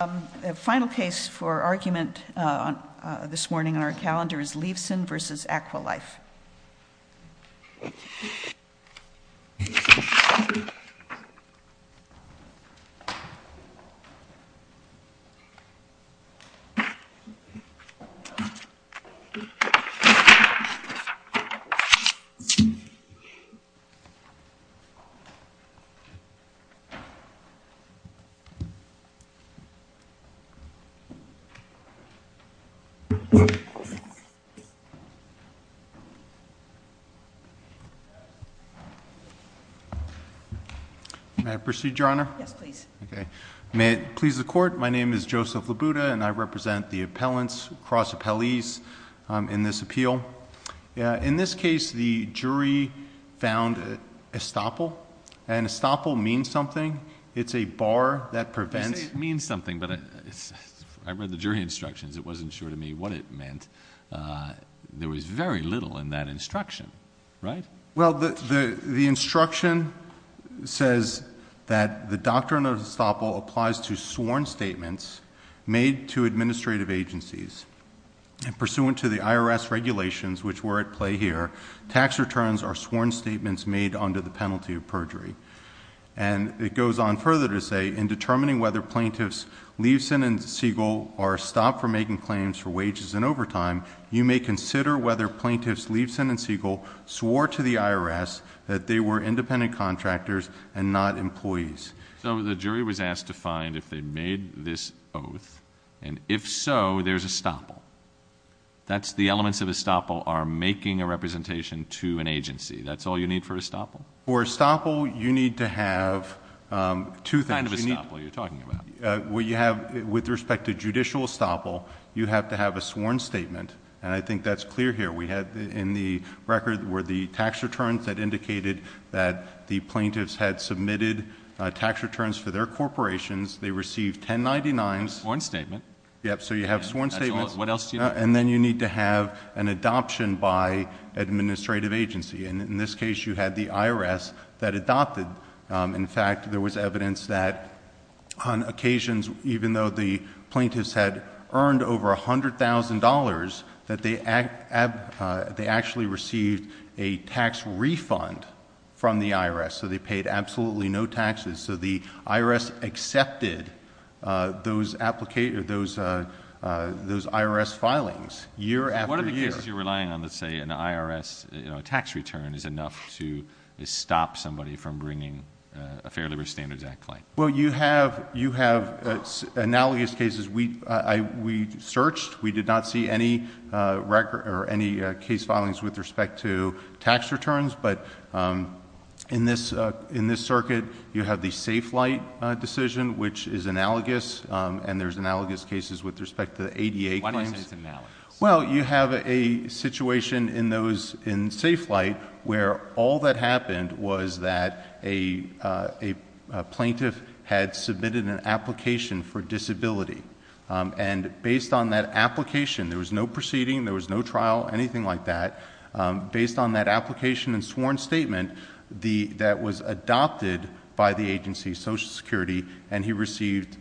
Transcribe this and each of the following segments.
The final case for argument this morning on our calendar is Levson v. Aqualife. May I proceed, Your Honor? Yes, please. May it please the Court, my name is Joseph Labuda and I represent the appellants, cross-appellees in this appeal. In this case, the jury found estoppel. And estoppel means something. It's a bar that prevents... You say it means something, but I read the jury instructions. It wasn't sure to me what it meant. There was very little in that instruction, right? Well, the instruction says that the doctrine of estoppel applies to sworn statements made to administrative agencies. And pursuant to the IRS regulations, which were at play here, tax returns are sworn statements made under the penalty of perjury. And it goes on further to say, in determining whether plaintiffs Levson and Siegel are stopped from making claims for wages and overtime, you may consider whether plaintiffs Levson and Siegel swore to the IRS that they were independent contractors and not employees. So the jury was asked to find if they made this oath, and if so, there's estoppel. That's the elements of estoppel are making a representation to an agency. That's all you need for estoppel? For estoppel, you need to have two things. What kind of estoppel are you talking about? With respect to judicial estoppel, you have to have a sworn statement, and I think that's clear here. We had in the record were the tax returns that indicated that the plaintiffs had submitted tax returns for their corporations. They received 1099s. A sworn statement. Yep, so you have sworn statements. What else do you need? And then you need to have an adoption by administrative agency. In this case, you had the IRS that adopted. In fact, there was evidence that on occasions, even though the plaintiffs had earned over $100,000, that they actually received a tax refund from the IRS, so they paid absolutely no taxes. So the IRS accepted those IRS filings year after year. What are the cases you're relying on that say an IRS tax return is enough to stop somebody from bringing a Fair Labor Standards Act claim? Well, you have analogous cases. We searched. We did not see any case filings with respect to tax returns, but in this circuit, you have the Safe Flight decision, which is analogous, and there's analogous cases with respect to the ADA claims. Why do you say it's analogous? Well, you have a situation in Safe Flight where all that happened was that a plaintiff had submitted an application for disability, and based on that application, there was no proceeding, there was no trial, anything like that. Based on that application and sworn statement, that was adopted by the agency, Social Security, and he received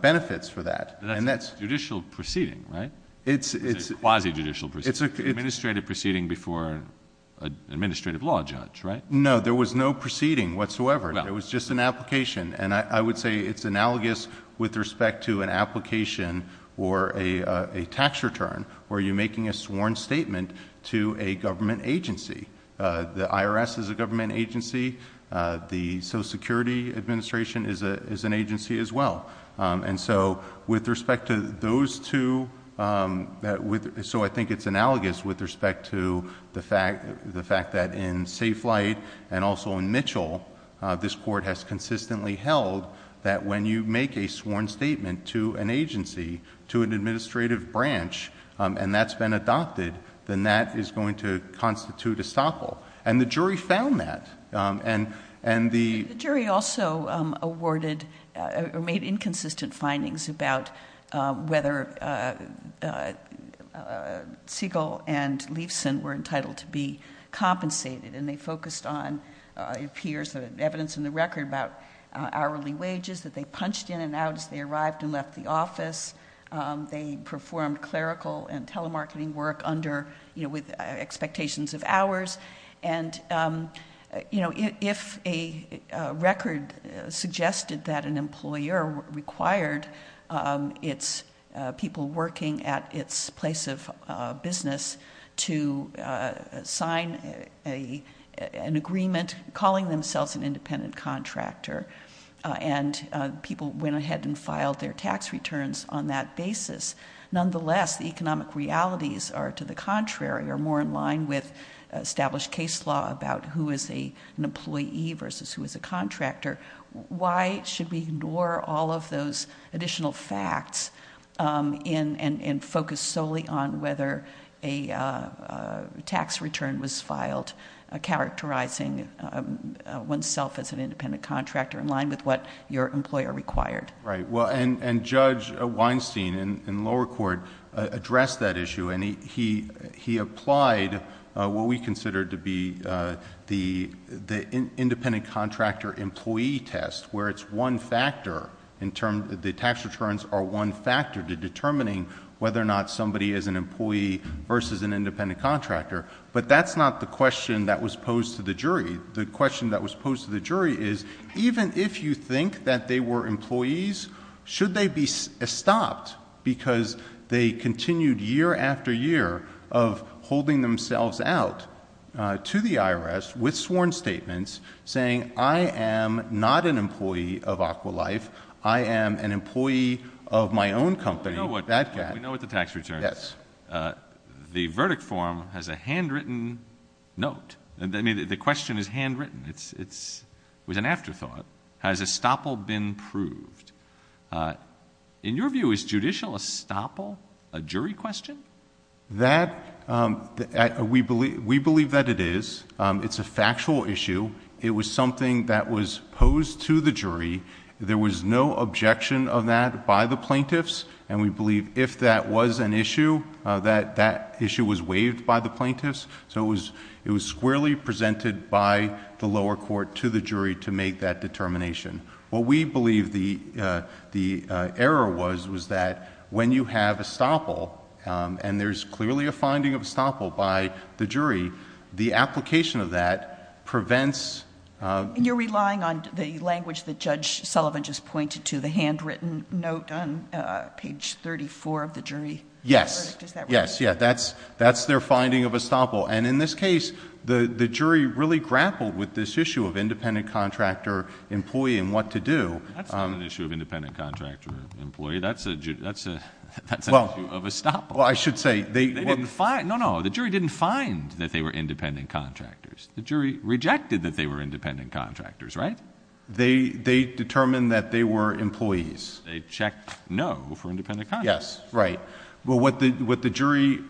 benefits for that. And that's judicial proceeding, right? It's a quasi-judicial proceeding. It's an administrative proceeding before an administrative law judge, right? No, there was no proceeding whatsoever. It was just an application, and I would say it's analogous with respect to an application or a tax return where you're making a sworn statement to a government agency. The IRS is a government agency. The Social Security Administration is an agency as well. And so with respect to those two, so I think it's analogous with respect to the fact that in Safe Flight and also in Mitchell, this court has consistently held that when you make a sworn statement to an agency, to an administrative branch, and that's been adopted, then that is going to constitute estoppel. And the jury found that. The jury also awarded or made inconsistent findings about whether Siegel and Leifson were entitled to be compensated, and they focused on, it appears in the evidence in the record, about hourly wages that they punched in and out as they arrived and left the office. They performed clerical and telemarketing work with expectations of hours. And, you know, if a record suggested that an employer required its people working at its place of business to sign an agreement, calling themselves an independent contractor, and people went ahead and filed their tax returns on that basis, nonetheless the economic realities are to the contrary, are more in line with established case law about who is an employee versus who is a contractor. Why should we ignore all of those additional facts and focus solely on whether a tax return was filed, characterizing oneself as an independent contractor in line with what your employer required? Right. And Judge Weinstein in lower court addressed that issue, and he applied what we consider to be the independent contractor employee test, where it's one factor, the tax returns are one factor to determining whether or not somebody is an employee versus an independent contractor. But that's not the question that was posed to the jury. The question that was posed to the jury is even if you think that they were employees, should they be stopped because they continued year after year of holding themselves out to the IRS with sworn statements saying, I am not an employee of Aqua Life. I am an employee of my own company. We know what the tax returns. Yes. The verdict form has a handwritten note. The question is handwritten. It was an afterthought. Has estoppel been proved? In your view, is judicial estoppel a jury question? We believe that it is. It's a factual issue. It was something that was posed to the jury. There was no objection of that by the plaintiffs, and we believe if that was an issue, that that issue was waived by the plaintiffs. It was squarely presented by the lower court to the jury to make that determination. What we believe the error was, was that when you have estoppel, and there's clearly a finding of estoppel by the jury, the application of that prevents... You're relying on the language that Judge Sullivan just pointed to, the handwritten note on page 34 of the jury. Yes. That's their finding of estoppel. In this case, the jury really grappled with this issue of independent contractor employee and what to do. That's not an issue of independent contractor employee. That's an issue of estoppel. I should say... No, no. The jury didn't find that they were independent contractors. The jury rejected that they were independent contractors, right? They determined that they were employees. They checked no for independent contractors. Yes. Right. What the jury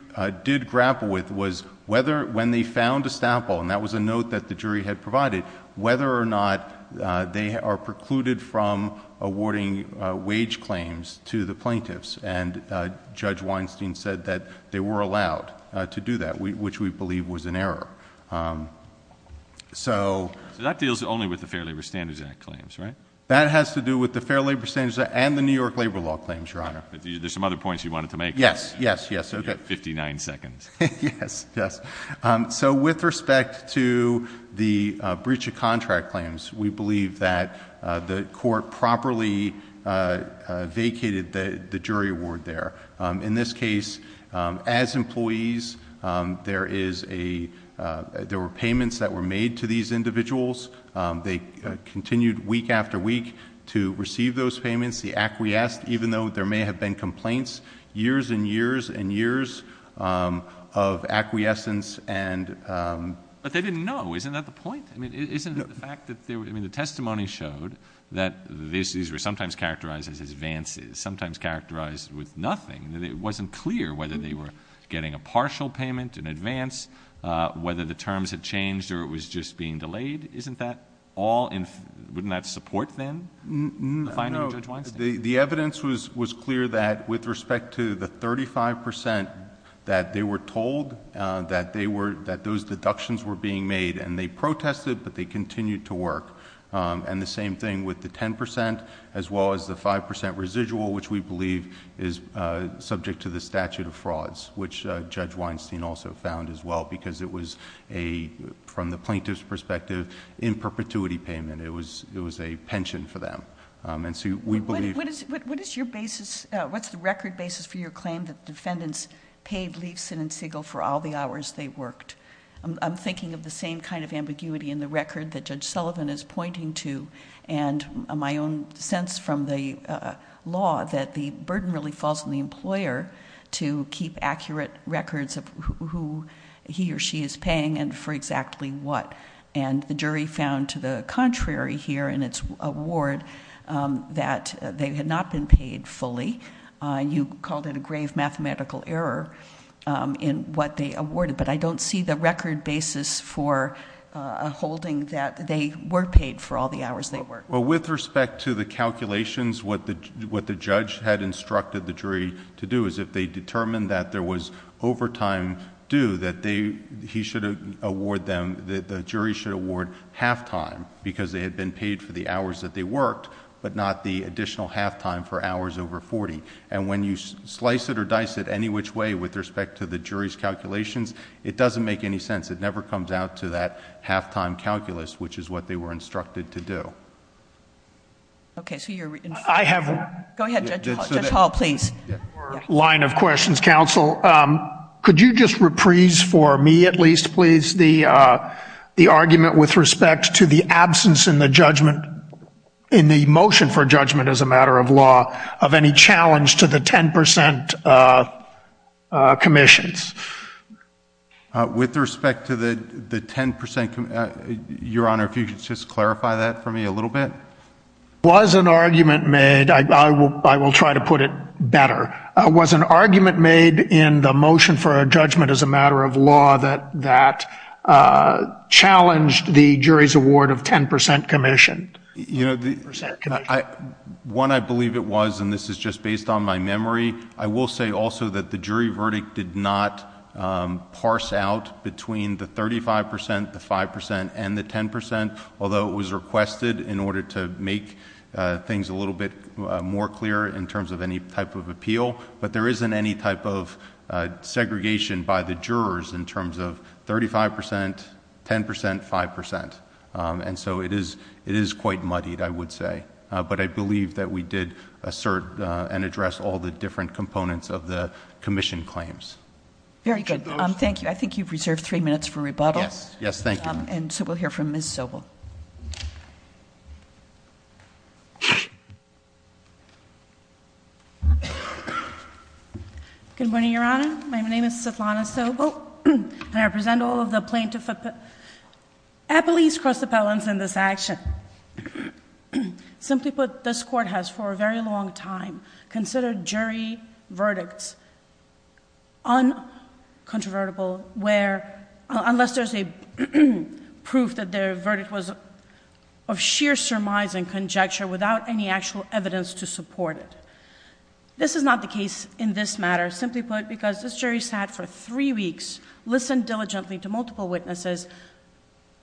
did grapple with was whether when they found estoppel, and that was a note that the jury had provided, whether or not they are precluded from awarding wage claims to the plaintiffs. And Judge Weinstein said that they were allowed to do that, which we believe was an error. So... So that deals only with the Fair Labor Standards Act claims, right? That has to do with the Fair Labor Standards Act and the New York labor law claims, Your Honor. There are some other points you wanted to make. Yes. Yes. Yes. Okay. You have 59 seconds. Yes. Yes. So with respect to the breach of contract claims, we believe that the court properly vacated the jury award there. In this case, as employees, there were payments that were made to these individuals. They continued week after week to receive those payments. The acquiesced, even though there may have been complaints, years and years and years of acquiescence and... But they didn't know. Isn't that the point? I mean, isn't it the fact that they were... I mean, the testimony showed that these were sometimes characterized as advances, sometimes characterized with nothing. It wasn't clear whether they were getting a partial payment in advance, whether the terms had changed or it was just being delayed. Isn't that all... wouldn't that support, then, the finding of Judge Weinstein? The evidence was clear that, with respect to the 35 percent that they were told that those deductions were being made, and they protested, but they continued to work. And the same thing with the 10 percent, as well as the 5 percent residual, which we believe is subject to the statute of frauds, which Judge Weinstein also found as well, because it was, from the plaintiff's perspective, in perpetuity payment. It was a pension for them. And so, we believe... What is your basis... what's the record basis for your claim that the defendants paid Leifson and Siegel for all the hours they worked? I'm thinking of the same kind of ambiguity in the record that Judge Sullivan is pointing to, and my own sense from the law that the burden really falls on the employer to keep accurate records of who he or she is paying and for exactly what. And the jury found to the contrary here in its award that they had not been paid fully. You called it a grave mathematical error in what they awarded, but I don't see the record basis for a holding that they were paid for all the hours they worked. Well, with respect to the calculations, what the judge had instructed the jury to do is, if they determined that there was overtime due, that they... he should award them... the jury should award half-time, because they had been paid for the hours that they worked, but not the additional half-time for hours over 40. And when you slice it or dice it any which way with respect to the jury's calculations, it doesn't make any sense. It never comes out to that half-time calculus, which is what they were instructed to do. Okay. So, you're... I have... Go ahead, Judge Hall. Judge Hall, please. One more line of questions, Counsel. Could you just reprise for me at least, please, the argument with respect to the absence in the judgment... in the motion for judgment as a matter of law, of any challenge to the 10 percent commissions? With respect to the 10 percent... Your Honor, if you could just clarify that for me a little bit. Was an argument made... I will try to put it better. Was an argument made in the motion for a judgment as a matter of law that challenged the jury's award of 10 percent commission? You know, the... 10 percent commission. One, I believe it was, and this is just based on my memory. I will say also that the jury verdict did not parse out between the 35 percent, the 5 percent and the 10 percent, although it was requested in order to make things a little bit more clear in terms of any type of appeal. But, there isn't any type of segregation by the jurors in terms of 35 percent, 10 percent, 5 percent. And so, it is quite muddied, I would say. But, I believe that we did assert and address all the different components of the commission claims. Very good. Thank you. I think you've reserved three minutes for rebuttal. Yes. Yes, thank you. And so, we'll hear from Ms. Sobel. Good morning, Your Honor. My name is Svetlana Sobel, and I represent all of the plaintiff... appellees, cross-appellants in this action. Simply put, this Court has for a very long time considered jury verdicts uncontrovertible where... they can prove that their verdict was of sheer surmise and conjecture without any actual evidence to support it. This is not the case in this matter. Simply put, because this jury sat for three weeks, listened diligently to multiple witnesses,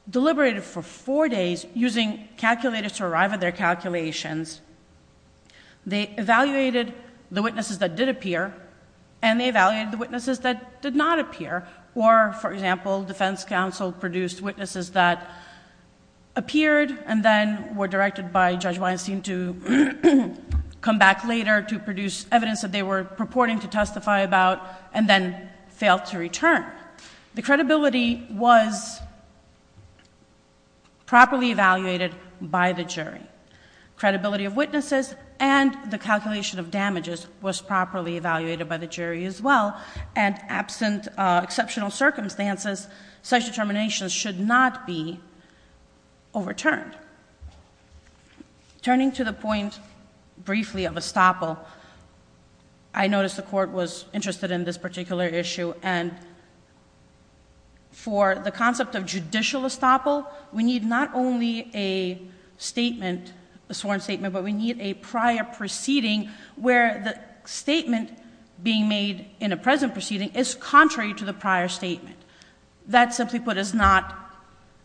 deliberated for four days, using calculators to arrive at their calculations. They evaluated the witnesses that did appear, and they evaluated the witnesses that did not appear. Or, for example, defense counsel produced witnesses that appeared and then were directed by Judge Weinstein to come back later to produce evidence that they were purporting to testify about and then failed to return. The credibility was properly evaluated by the jury. Credibility of witnesses and the calculation of damages was properly evaluated by the jury as well. And absent exceptional circumstances, such determinations should not be overturned. Turning to the point briefly of estoppel, I noticed the Court was interested in this particular issue. And for the concept of judicial estoppel, we need not only a sworn statement, but we need a prior proceeding... where the statement being made in a present proceeding is contrary to the prior statement. That, simply put, is not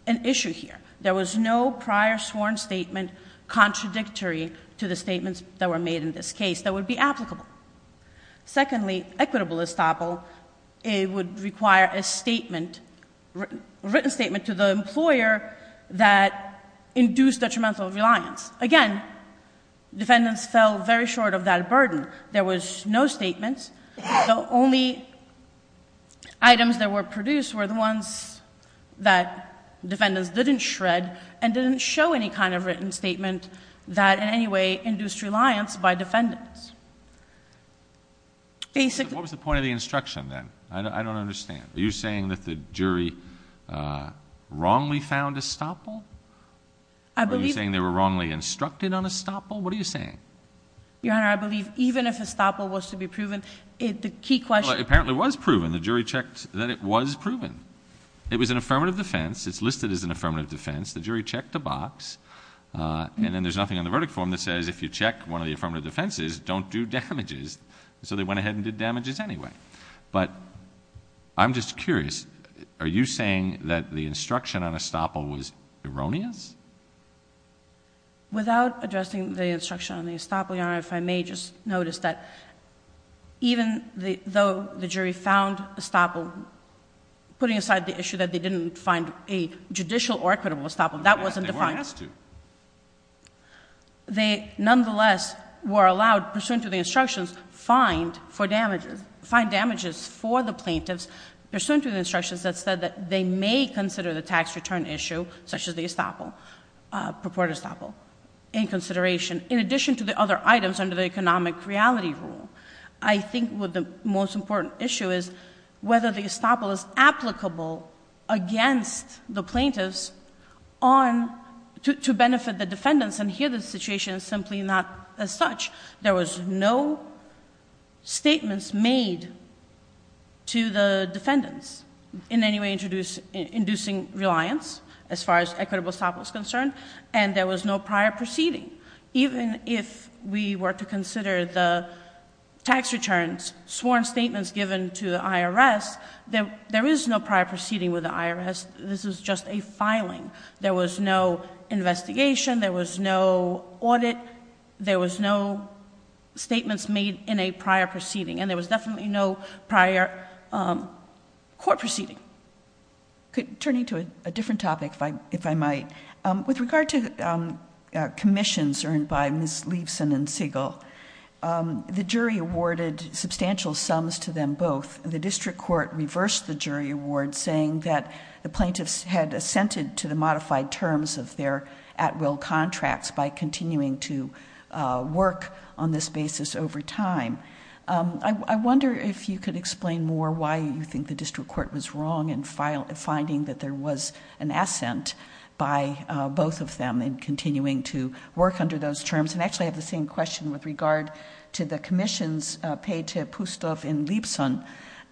an issue here. There was no prior sworn statement contradictory to the statements that were made in this case that would be applicable. Secondly, equitable estoppel would require a written statement to the employer that induced detrimental reliance. Again, defendants fell very short of that burden. There was no statement. The only items that were produced were the ones that defendants didn't shred and didn't show any kind of written statement that in any way induced reliance by defendants. Basically... What was the point of the instruction then? I don't understand. Are you saying that the jury wrongly found estoppel? I believe... Are you saying they were wrongly instructed on estoppel? What are you saying? Your Honor, I believe even if estoppel was to be proven, the key question... Well, it apparently was proven. The jury checked that it was proven. It was an affirmative defense. It's listed as an affirmative defense. The jury checked the box. And then there's nothing on the verdict form that says if you check one of the affirmative defenses, don't do damages. So, they went ahead and did damages anyway. But I'm just curious. Are you saying that the instruction on estoppel was erroneous? Without addressing the instruction on the estoppel, Your Honor, if I may just notice that even though the jury found estoppel, putting aside the issue that they didn't find a judicial or equitable estoppel, that wasn't defined. They were asked to. They nonetheless were allowed, pursuant to the instructions, find damages for the plaintiffs, pursuant to the instructions that said that they may consider the tax return issue, such as the estoppel, purported estoppel, in consideration, in addition to the other items under the economic reality rule. I think the most important issue is whether the estoppel is applicable against the plaintiffs to benefit the defendants. And here the situation is simply not as such. There was no statements made to the defendants in any way inducing reliance as far as equitable estoppel is concerned. And there was no prior proceeding. Even if we were to consider the tax returns, sworn statements given to the IRS, there is no prior proceeding with the IRS. This is just a filing. There was no investigation. There was no audit. There was no statements made in a prior proceeding. And there was definitely no prior court proceeding. Turning to a different topic, if I might, with regard to commissions earned by Ms. Leibson and Siegel, the jury awarded substantial sums to them both. The district court reversed the jury award, saying that the plaintiffs had assented to the modified terms of their at-will contracts by continuing to work on this basis over time. I wonder if you could explain more why you think the district court was wrong in finding that there was an assent by both of them in continuing to work under those terms. And actually, I have the same question with regard to the commissions paid to Pustov and Leibson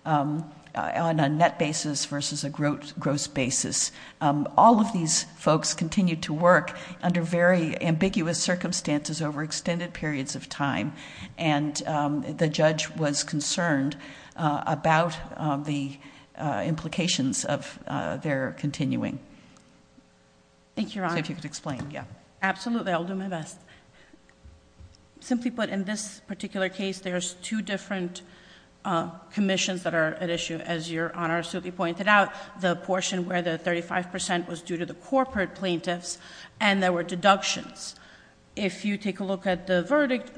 on a net basis versus a gross basis. All of these folks continued to work under very ambiguous circumstances over extended periods of time, and the judge was concerned about the implications of their continuing. Thank you, Your Honor. See if you could explain. Absolutely. I'll do my best. Simply put, in this particular case, there's two different commissions that are at issue, as Your Honor certainly pointed out. The portion where the 35 percent was due to the corporate plaintiffs, and there were deductions. If you take a look at the verdict,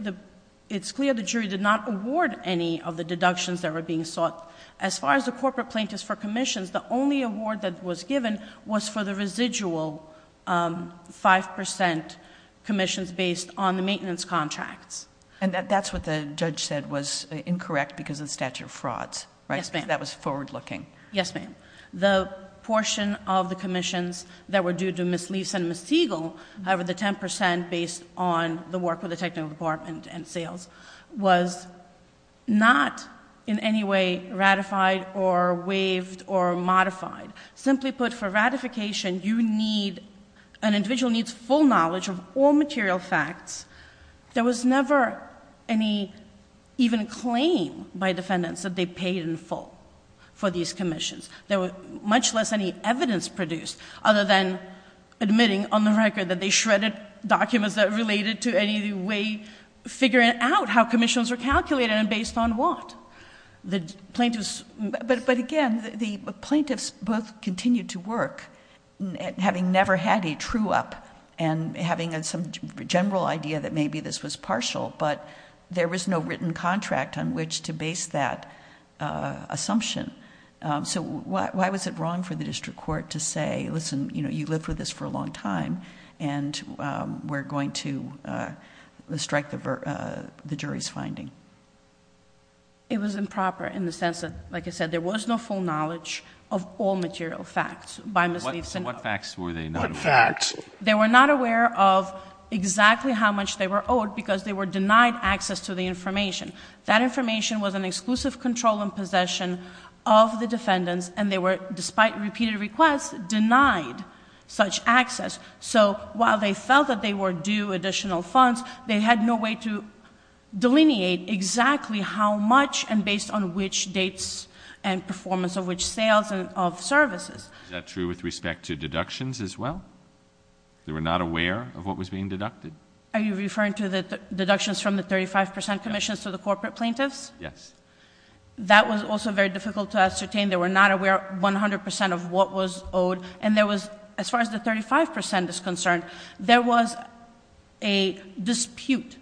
it's clear the jury did not award any of the deductions that were being sought. As far as the corporate plaintiffs for commissions, the only award that was given was for the residual 5 percent commissions based on the maintenance contracts. And that's what the judge said was incorrect because of the statute of frauds, right? Yes, ma'am. Because that was forward-looking. Yes, ma'am. The portion of the commissions that were due to Ms. Leibson and Ms. Siegel, however, the 10 percent based on the work with the technical department and sales, was not in any way ratified or waived or modified. Simply put, for ratification, an individual needs full knowledge of all material facts. There was never any even claim by defendants that they paid in full for these commissions. There was much less any evidence produced other than admitting on the record that they shredded documents that related to any way figuring out how commissions were calculated and based on what. But again, the plaintiffs both continued to work, having never had a true-up and having some general idea that maybe this was partial, but there was no written contract on which to base that assumption. So why was it wrong for the district court to say, listen, you lived with this for a long time, and we're going to strike the jury's finding? It was improper in the sense that, like I said, there was no full knowledge of all material facts by Ms. Leibson. What facts were they not aware of? What facts? They were not aware of exactly how much they were owed because they were denied access to the information. That information was an exclusive control and possession of the defendants, and they were, despite repeated requests, denied such access. So while they felt that they were due additional funds, they had no way to delineate exactly how much and based on which dates and performance of which sales and of services. Is that true with respect to deductions as well? They were not aware of what was being deducted? Are you referring to the deductions from the 35 percent commissions to the corporate plaintiffs? Yes. That was also very difficult to ascertain. They were not aware 100 percent of what was owed, and there was, as far as the 35 percent is concerned, there was a dispute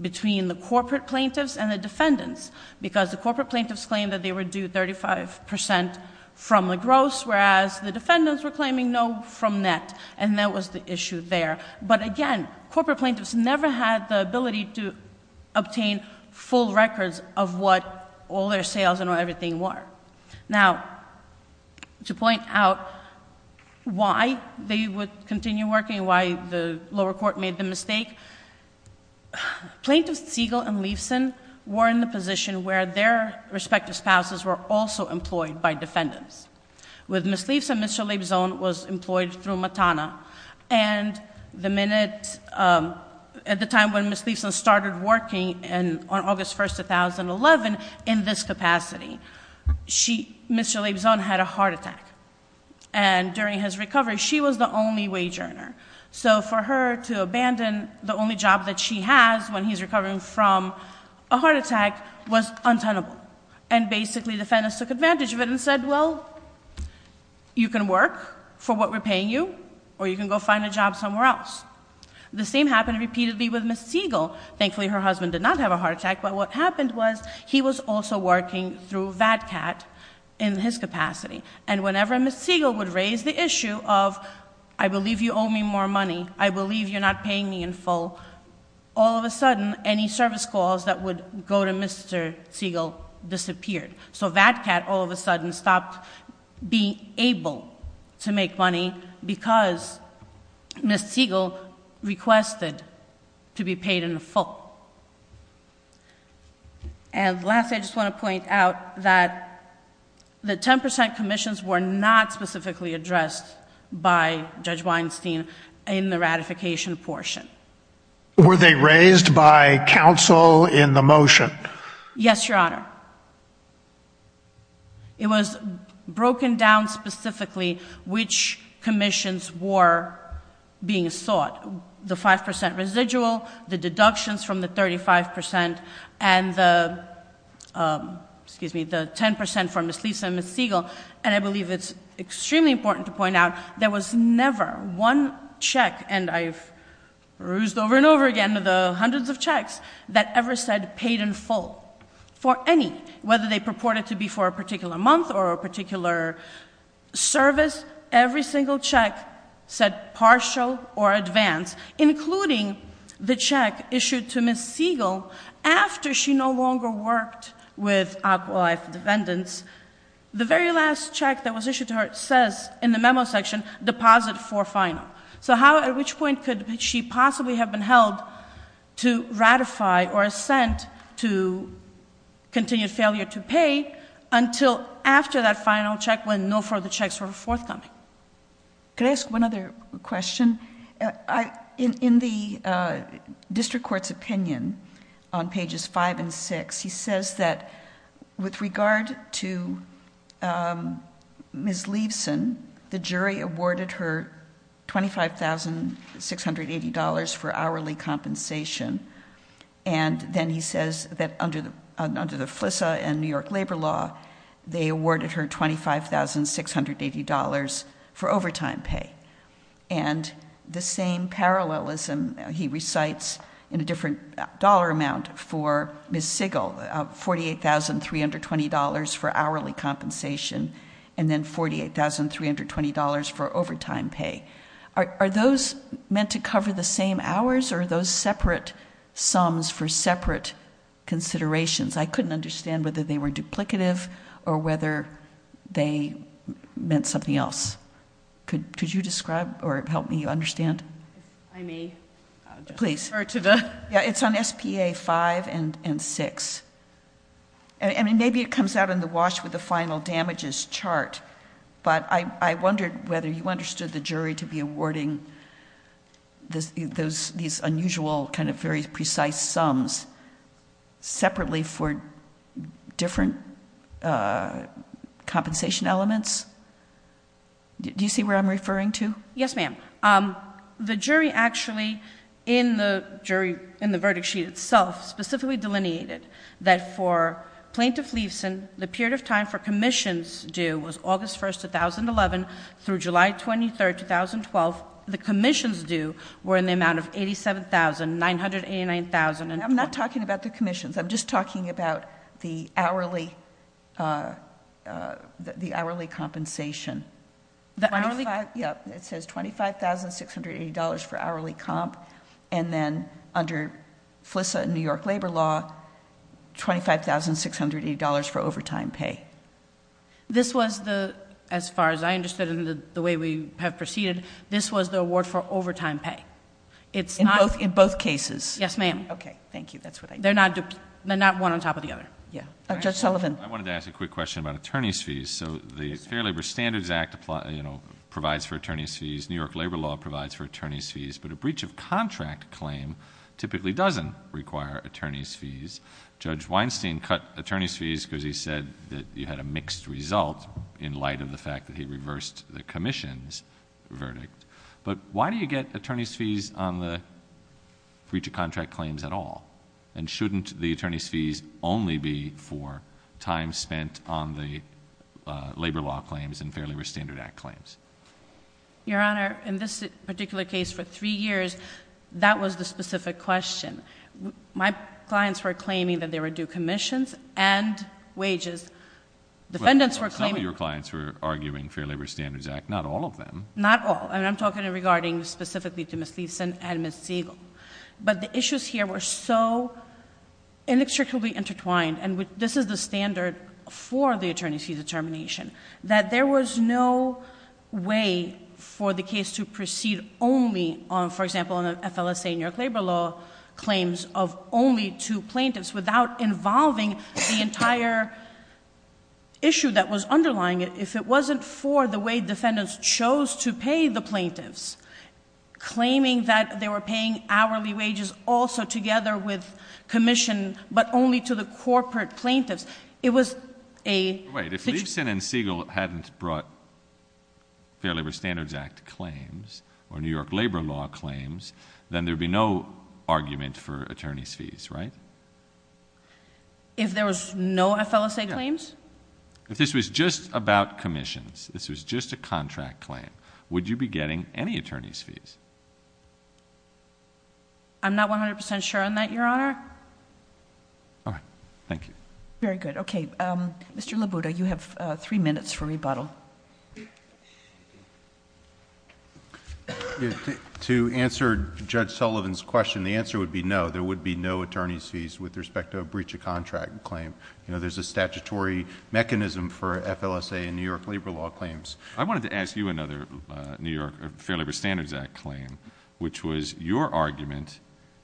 between the corporate plaintiffs and the defendants because the corporate plaintiffs claimed that they were due 35 percent from a gross, whereas the defendants were claiming no from net, and that was the issue there. But again, corporate plaintiffs never had the ability to obtain full records of what all their sales and everything were. Now, to point out why they would continue working, why the lower court made the mistake, Plaintiffs Siegel and Leifson were in the position where their respective spouses were also employed by defendants. With Ms. Leifson, Mr. Leibsohn was employed through Matana, and at the time when Ms. Leifson started working on August 1, 2011, in this capacity, Mr. Leibsohn had a heart attack, and during his recovery, she was the only wage earner. So for her to abandon the only job that she has when he's recovering from a heart attack was untenable, and basically defendants took advantage of it and said, well, you can work for what we're paying you, or you can go find a job somewhere else. The same happened repeatedly with Ms. Siegel. Thankfully, her husband did not have a heart attack, but what happened was he was also working through VATCAT in his capacity, and whenever Ms. Siegel would raise the issue of, I believe you owe me more money, I believe you're not paying me in full, all of a sudden any service calls that would go to Mr. Siegel disappeared. So VATCAT all of a sudden stopped being able to make money because Ms. Siegel requested to be paid in full. And lastly, I just want to point out that the 10% commissions were not specifically addressed by Judge Weinstein in the ratification portion. Were they raised by counsel in the motion? Yes, Your Honor. It was broken down specifically which commissions were being sought. The 5% residual, the deductions from the 35%, and the 10% from Ms. Lisa and Ms. Siegel, and I believe it's extremely important to point out there was never one check, and I've rused over and over again the hundreds of checks that ever said paid in full for any, whether they purported to be for a particular month or a particular service, every single check said partial or advanced, including the check issued to Ms. Siegel after she no longer worked with Aqualife Defendants. The very last check that was issued to her says in the memo section, deposit for final. So how, at which point could she possibly have been held to ratify or assent to continued failure to pay until after that final check when no further checks were forthcoming? Could I ask one other question? In the district court's opinion on pages five and six, he says that with regard to Ms. Leibson, the jury awarded her $25,680 for hourly compensation, and then he says that under the FLSA and New York labor law, they awarded her $25,680 for overtime pay. And the same parallelism he recites in a different dollar amount for Ms. Siegel, $48,320 for hourly compensation and then $48,320 for overtime pay. Are those meant to cover the same hours or are those separate sums for separate considerations? I couldn't understand whether they were duplicative or whether they meant something else. Could you describe or help me understand? I may. Please. It's on SPA five and six. Maybe it comes out in the wash with the final damages chart, but I wondered whether you understood the jury to be awarding these unusual, very precise sums separately for different compensation elements? Do you see where I'm referring to? Yes, ma'am. The jury actually, in the verdict sheet itself, specifically delineated that for Plaintiff Leibson, the period of time for commissions due was August 1st, 2011 through July 23rd, 2012. The commissions due were in the amount of $87,000, $989,000. I'm not talking about the commissions. I'm just talking about the hourly compensation. The hourly? $25,680 for hourly comp, and then under FLISA and New York Labor Law, $25,680 for overtime pay. This was the, as far as I understood it and the way we have proceeded, this was the award for overtime pay? In both cases. Yes, ma'am. Okay. Thank you. They're not one on top of the other. Judge Sullivan. I wanted to ask a quick question about attorney's fees. The Fair Labor Standards Act provides for attorney's fees. New York Labor Law provides for attorney's fees, but a breach of contract claim typically doesn't require attorney's fees. Judge Weinstein cut attorney's fees because he said that you had a mixed result in light of the fact that he reversed the commission's verdict. Why do you get attorney's fees on the breach of contract claims at all? Shouldn't the attorney's fees only be for time spent on the labor law claims and Fair Labor Standards Act claims? Your Honor, in this particular case for three years, that was the specific question. My clients were claiming that there were due commissions and wages. Defendants were claiming... Some of your clients were arguing Fair Labor Standards Act, not all of them. Not all. I'm talking regarding specifically to Ms. Thiessen and Ms. Siegel. But the issues here were so inextricably intertwined, and this is the standard for the attorney's fees determination, that there was no way for the case to proceed only on, for example, on the FLSA New York Labor Law claims of only two plaintiffs without involving the entire issue that was underlying it. If it wasn't for the way defendants chose to pay the plaintiffs, claiming that they were paying hourly wages also together with commission, but only to the corporate plaintiffs, it was a... Wait. If Thiessen and Siegel hadn't brought Fair Labor Standards Act claims or New York Labor Law claims, then there would be no argument for attorney's fees, right? If there was no FLSA claims? If this was just about commissions, if this was just a contract claim, would you be getting any attorney's fees? I'm not 100% sure on that, Your Honor. All right. Thank you. Very good. Okay. Mr. Labuda, you have three minutes for rebuttal. To answer Judge Sullivan's question, the answer would be no. There would be no attorney's fees with respect to a breach of contract claim. You know, there's a statutory mechanism for FLSA and New York Labor Law claims. I wanted to ask you another New York Fair Labor Standards Act claim, which was your argument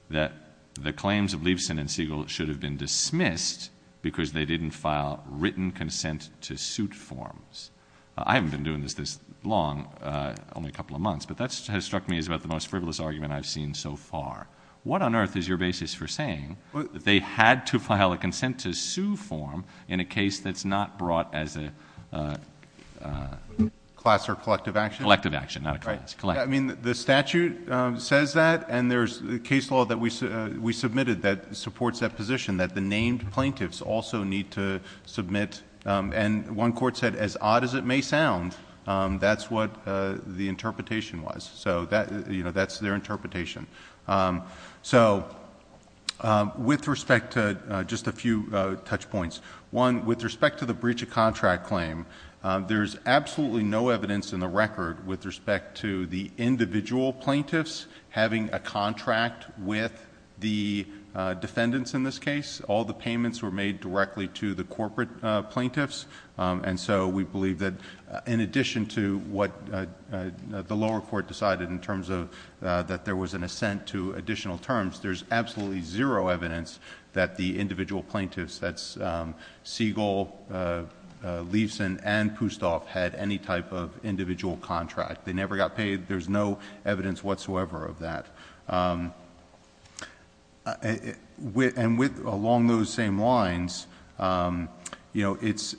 that the claims of Thiessen and Siegel should have been dismissed because they didn't file written consent to suit forms. I haven't been doing this this long, only a couple of months, but that has struck me as about the most frivolous argument I've seen so far. What on earth is your basis for saying that they had to file a consent to sue form in a case that's not brought as a... Class or collective action? Collective action, not a class. I mean, the statute says that, and there's a case law that we submitted that supports that position, that the named plaintiffs also need to submit... And one court said, as odd as it may sound, that's what the interpretation was. So, that's their interpretation. So, with respect to... just a few touch points. One, with respect to the breach of contract claim, there's absolutely no evidence in the record with respect to the individual plaintiffs having a contract with the defendants in this case. All the payments were made directly to the corporate plaintiffs, and so, we believe that in addition to what the lower court decided in terms of that there was an assent to additional terms, there's absolutely zero evidence that the individual plaintiffs, that's Siegel, Liefsen, and Pustov, had any type of individual contract. They never got paid. There's no evidence whatsoever of that. And along those same lines, these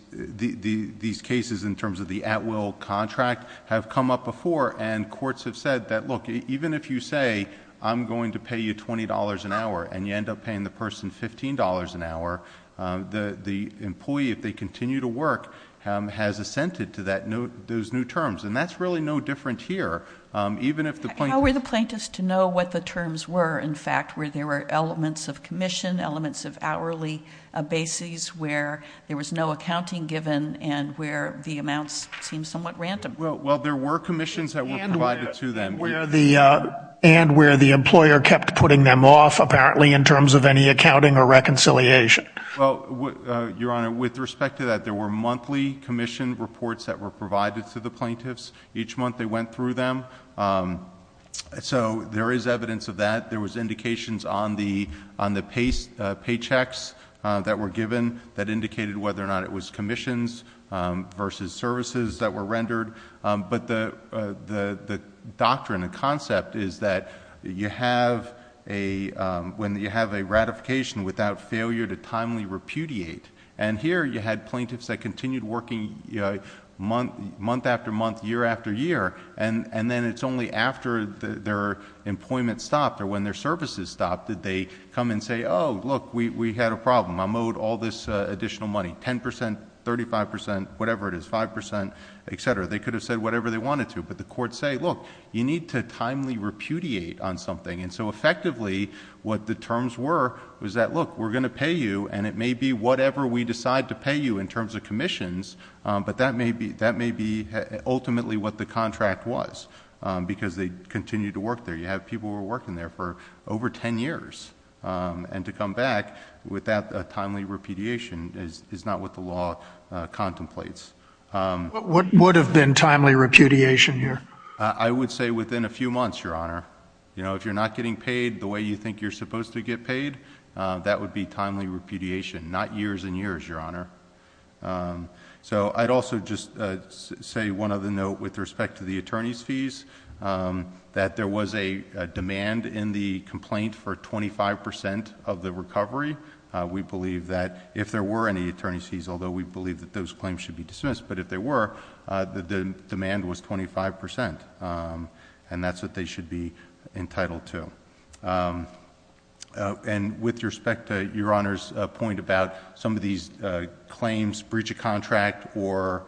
cases in terms of the at-will contract have come up before, and courts have said that, look, even if you say, I'm going to pay you $20 an hour, and you end up paying the person $15 an hour, the employee, if they continue to work, has assented to those new terms. And that's really no different here. How were the plaintiffs to know what the terms were, in fact, where there were elements of commission, elements of hourly bases, where there was no accounting given, and where the amounts seemed somewhat random? Well, there were commissions that were provided to them. And where the employer kept putting them off, apparently, in terms of any accounting or reconciliation. Well, Your Honor, with respect to that, there were monthly commission reports that were provided to the plaintiffs. Each month they went through them. So there is evidence of that. There was indications on the paychecks that were given that indicated whether or not it was commissions versus services that were rendered. But the doctrine, the concept, is that you have a ratification without failure to timely repudiate. And here you had plaintiffs that continued working month after month, year after year. And then it's only after their employment stopped or when their services stopped that they come and say, oh, look, we had a problem. I'm owed all this additional money, 10%, 35%, whatever it is, 5%, etc. They could have said whatever they wanted to. But the courts say, look, you need to timely repudiate on something. And so effectively what the terms were was that, look, we're going to pay you, and it may be whatever we decide to pay you in terms of commissions, but that may be ultimately what the contract was because they continued to work there. You have people who were working there for over 10 years. And to come back with that timely repudiation is not what the law contemplates. What would have been timely repudiation here? I would say within a few months, Your Honor. If you're not getting paid the way you think you're supposed to get paid, that would be timely repudiation, not years and years, Your Honor. So I'd also just say one other note with respect to the attorney's fees, that there was a demand in the complaint for 25% of the recovery. We believe that if there were any attorney's fees, although we believe that those claims should be dismissed, but if there were, the demand was 25%, and that's what they should be entitled to. And with respect to Your Honor's point about some of these claims, breach of contract or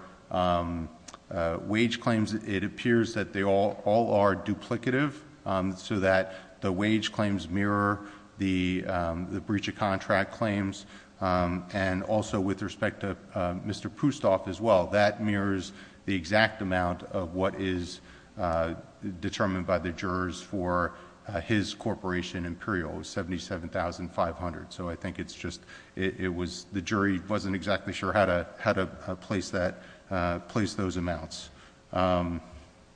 wage claims, it appears that they all are duplicative so that the wage claims mirror the breach of contract claims. And also with respect to Mr. Pustov as well, that mirrors the exact amount of what is determined by the jurors for his corporation, Imperial, $77,500. So I think it's just the jury wasn't exactly sure how to place those amounts.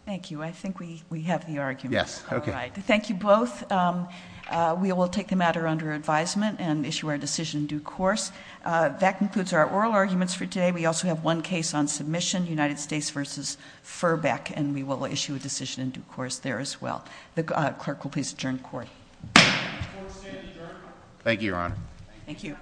Thank you. I think we have the argument. Yes. All right. Thank you both. We will take the matter under advisement and issue our decision in due course. That concludes our oral arguments for today. We also have one case on submission, United States v. Furbeck, and we will issue a decision in due course there as well. The clerk will please adjourn court. Court is adjourned. Thank you, Your Honor. Thank you.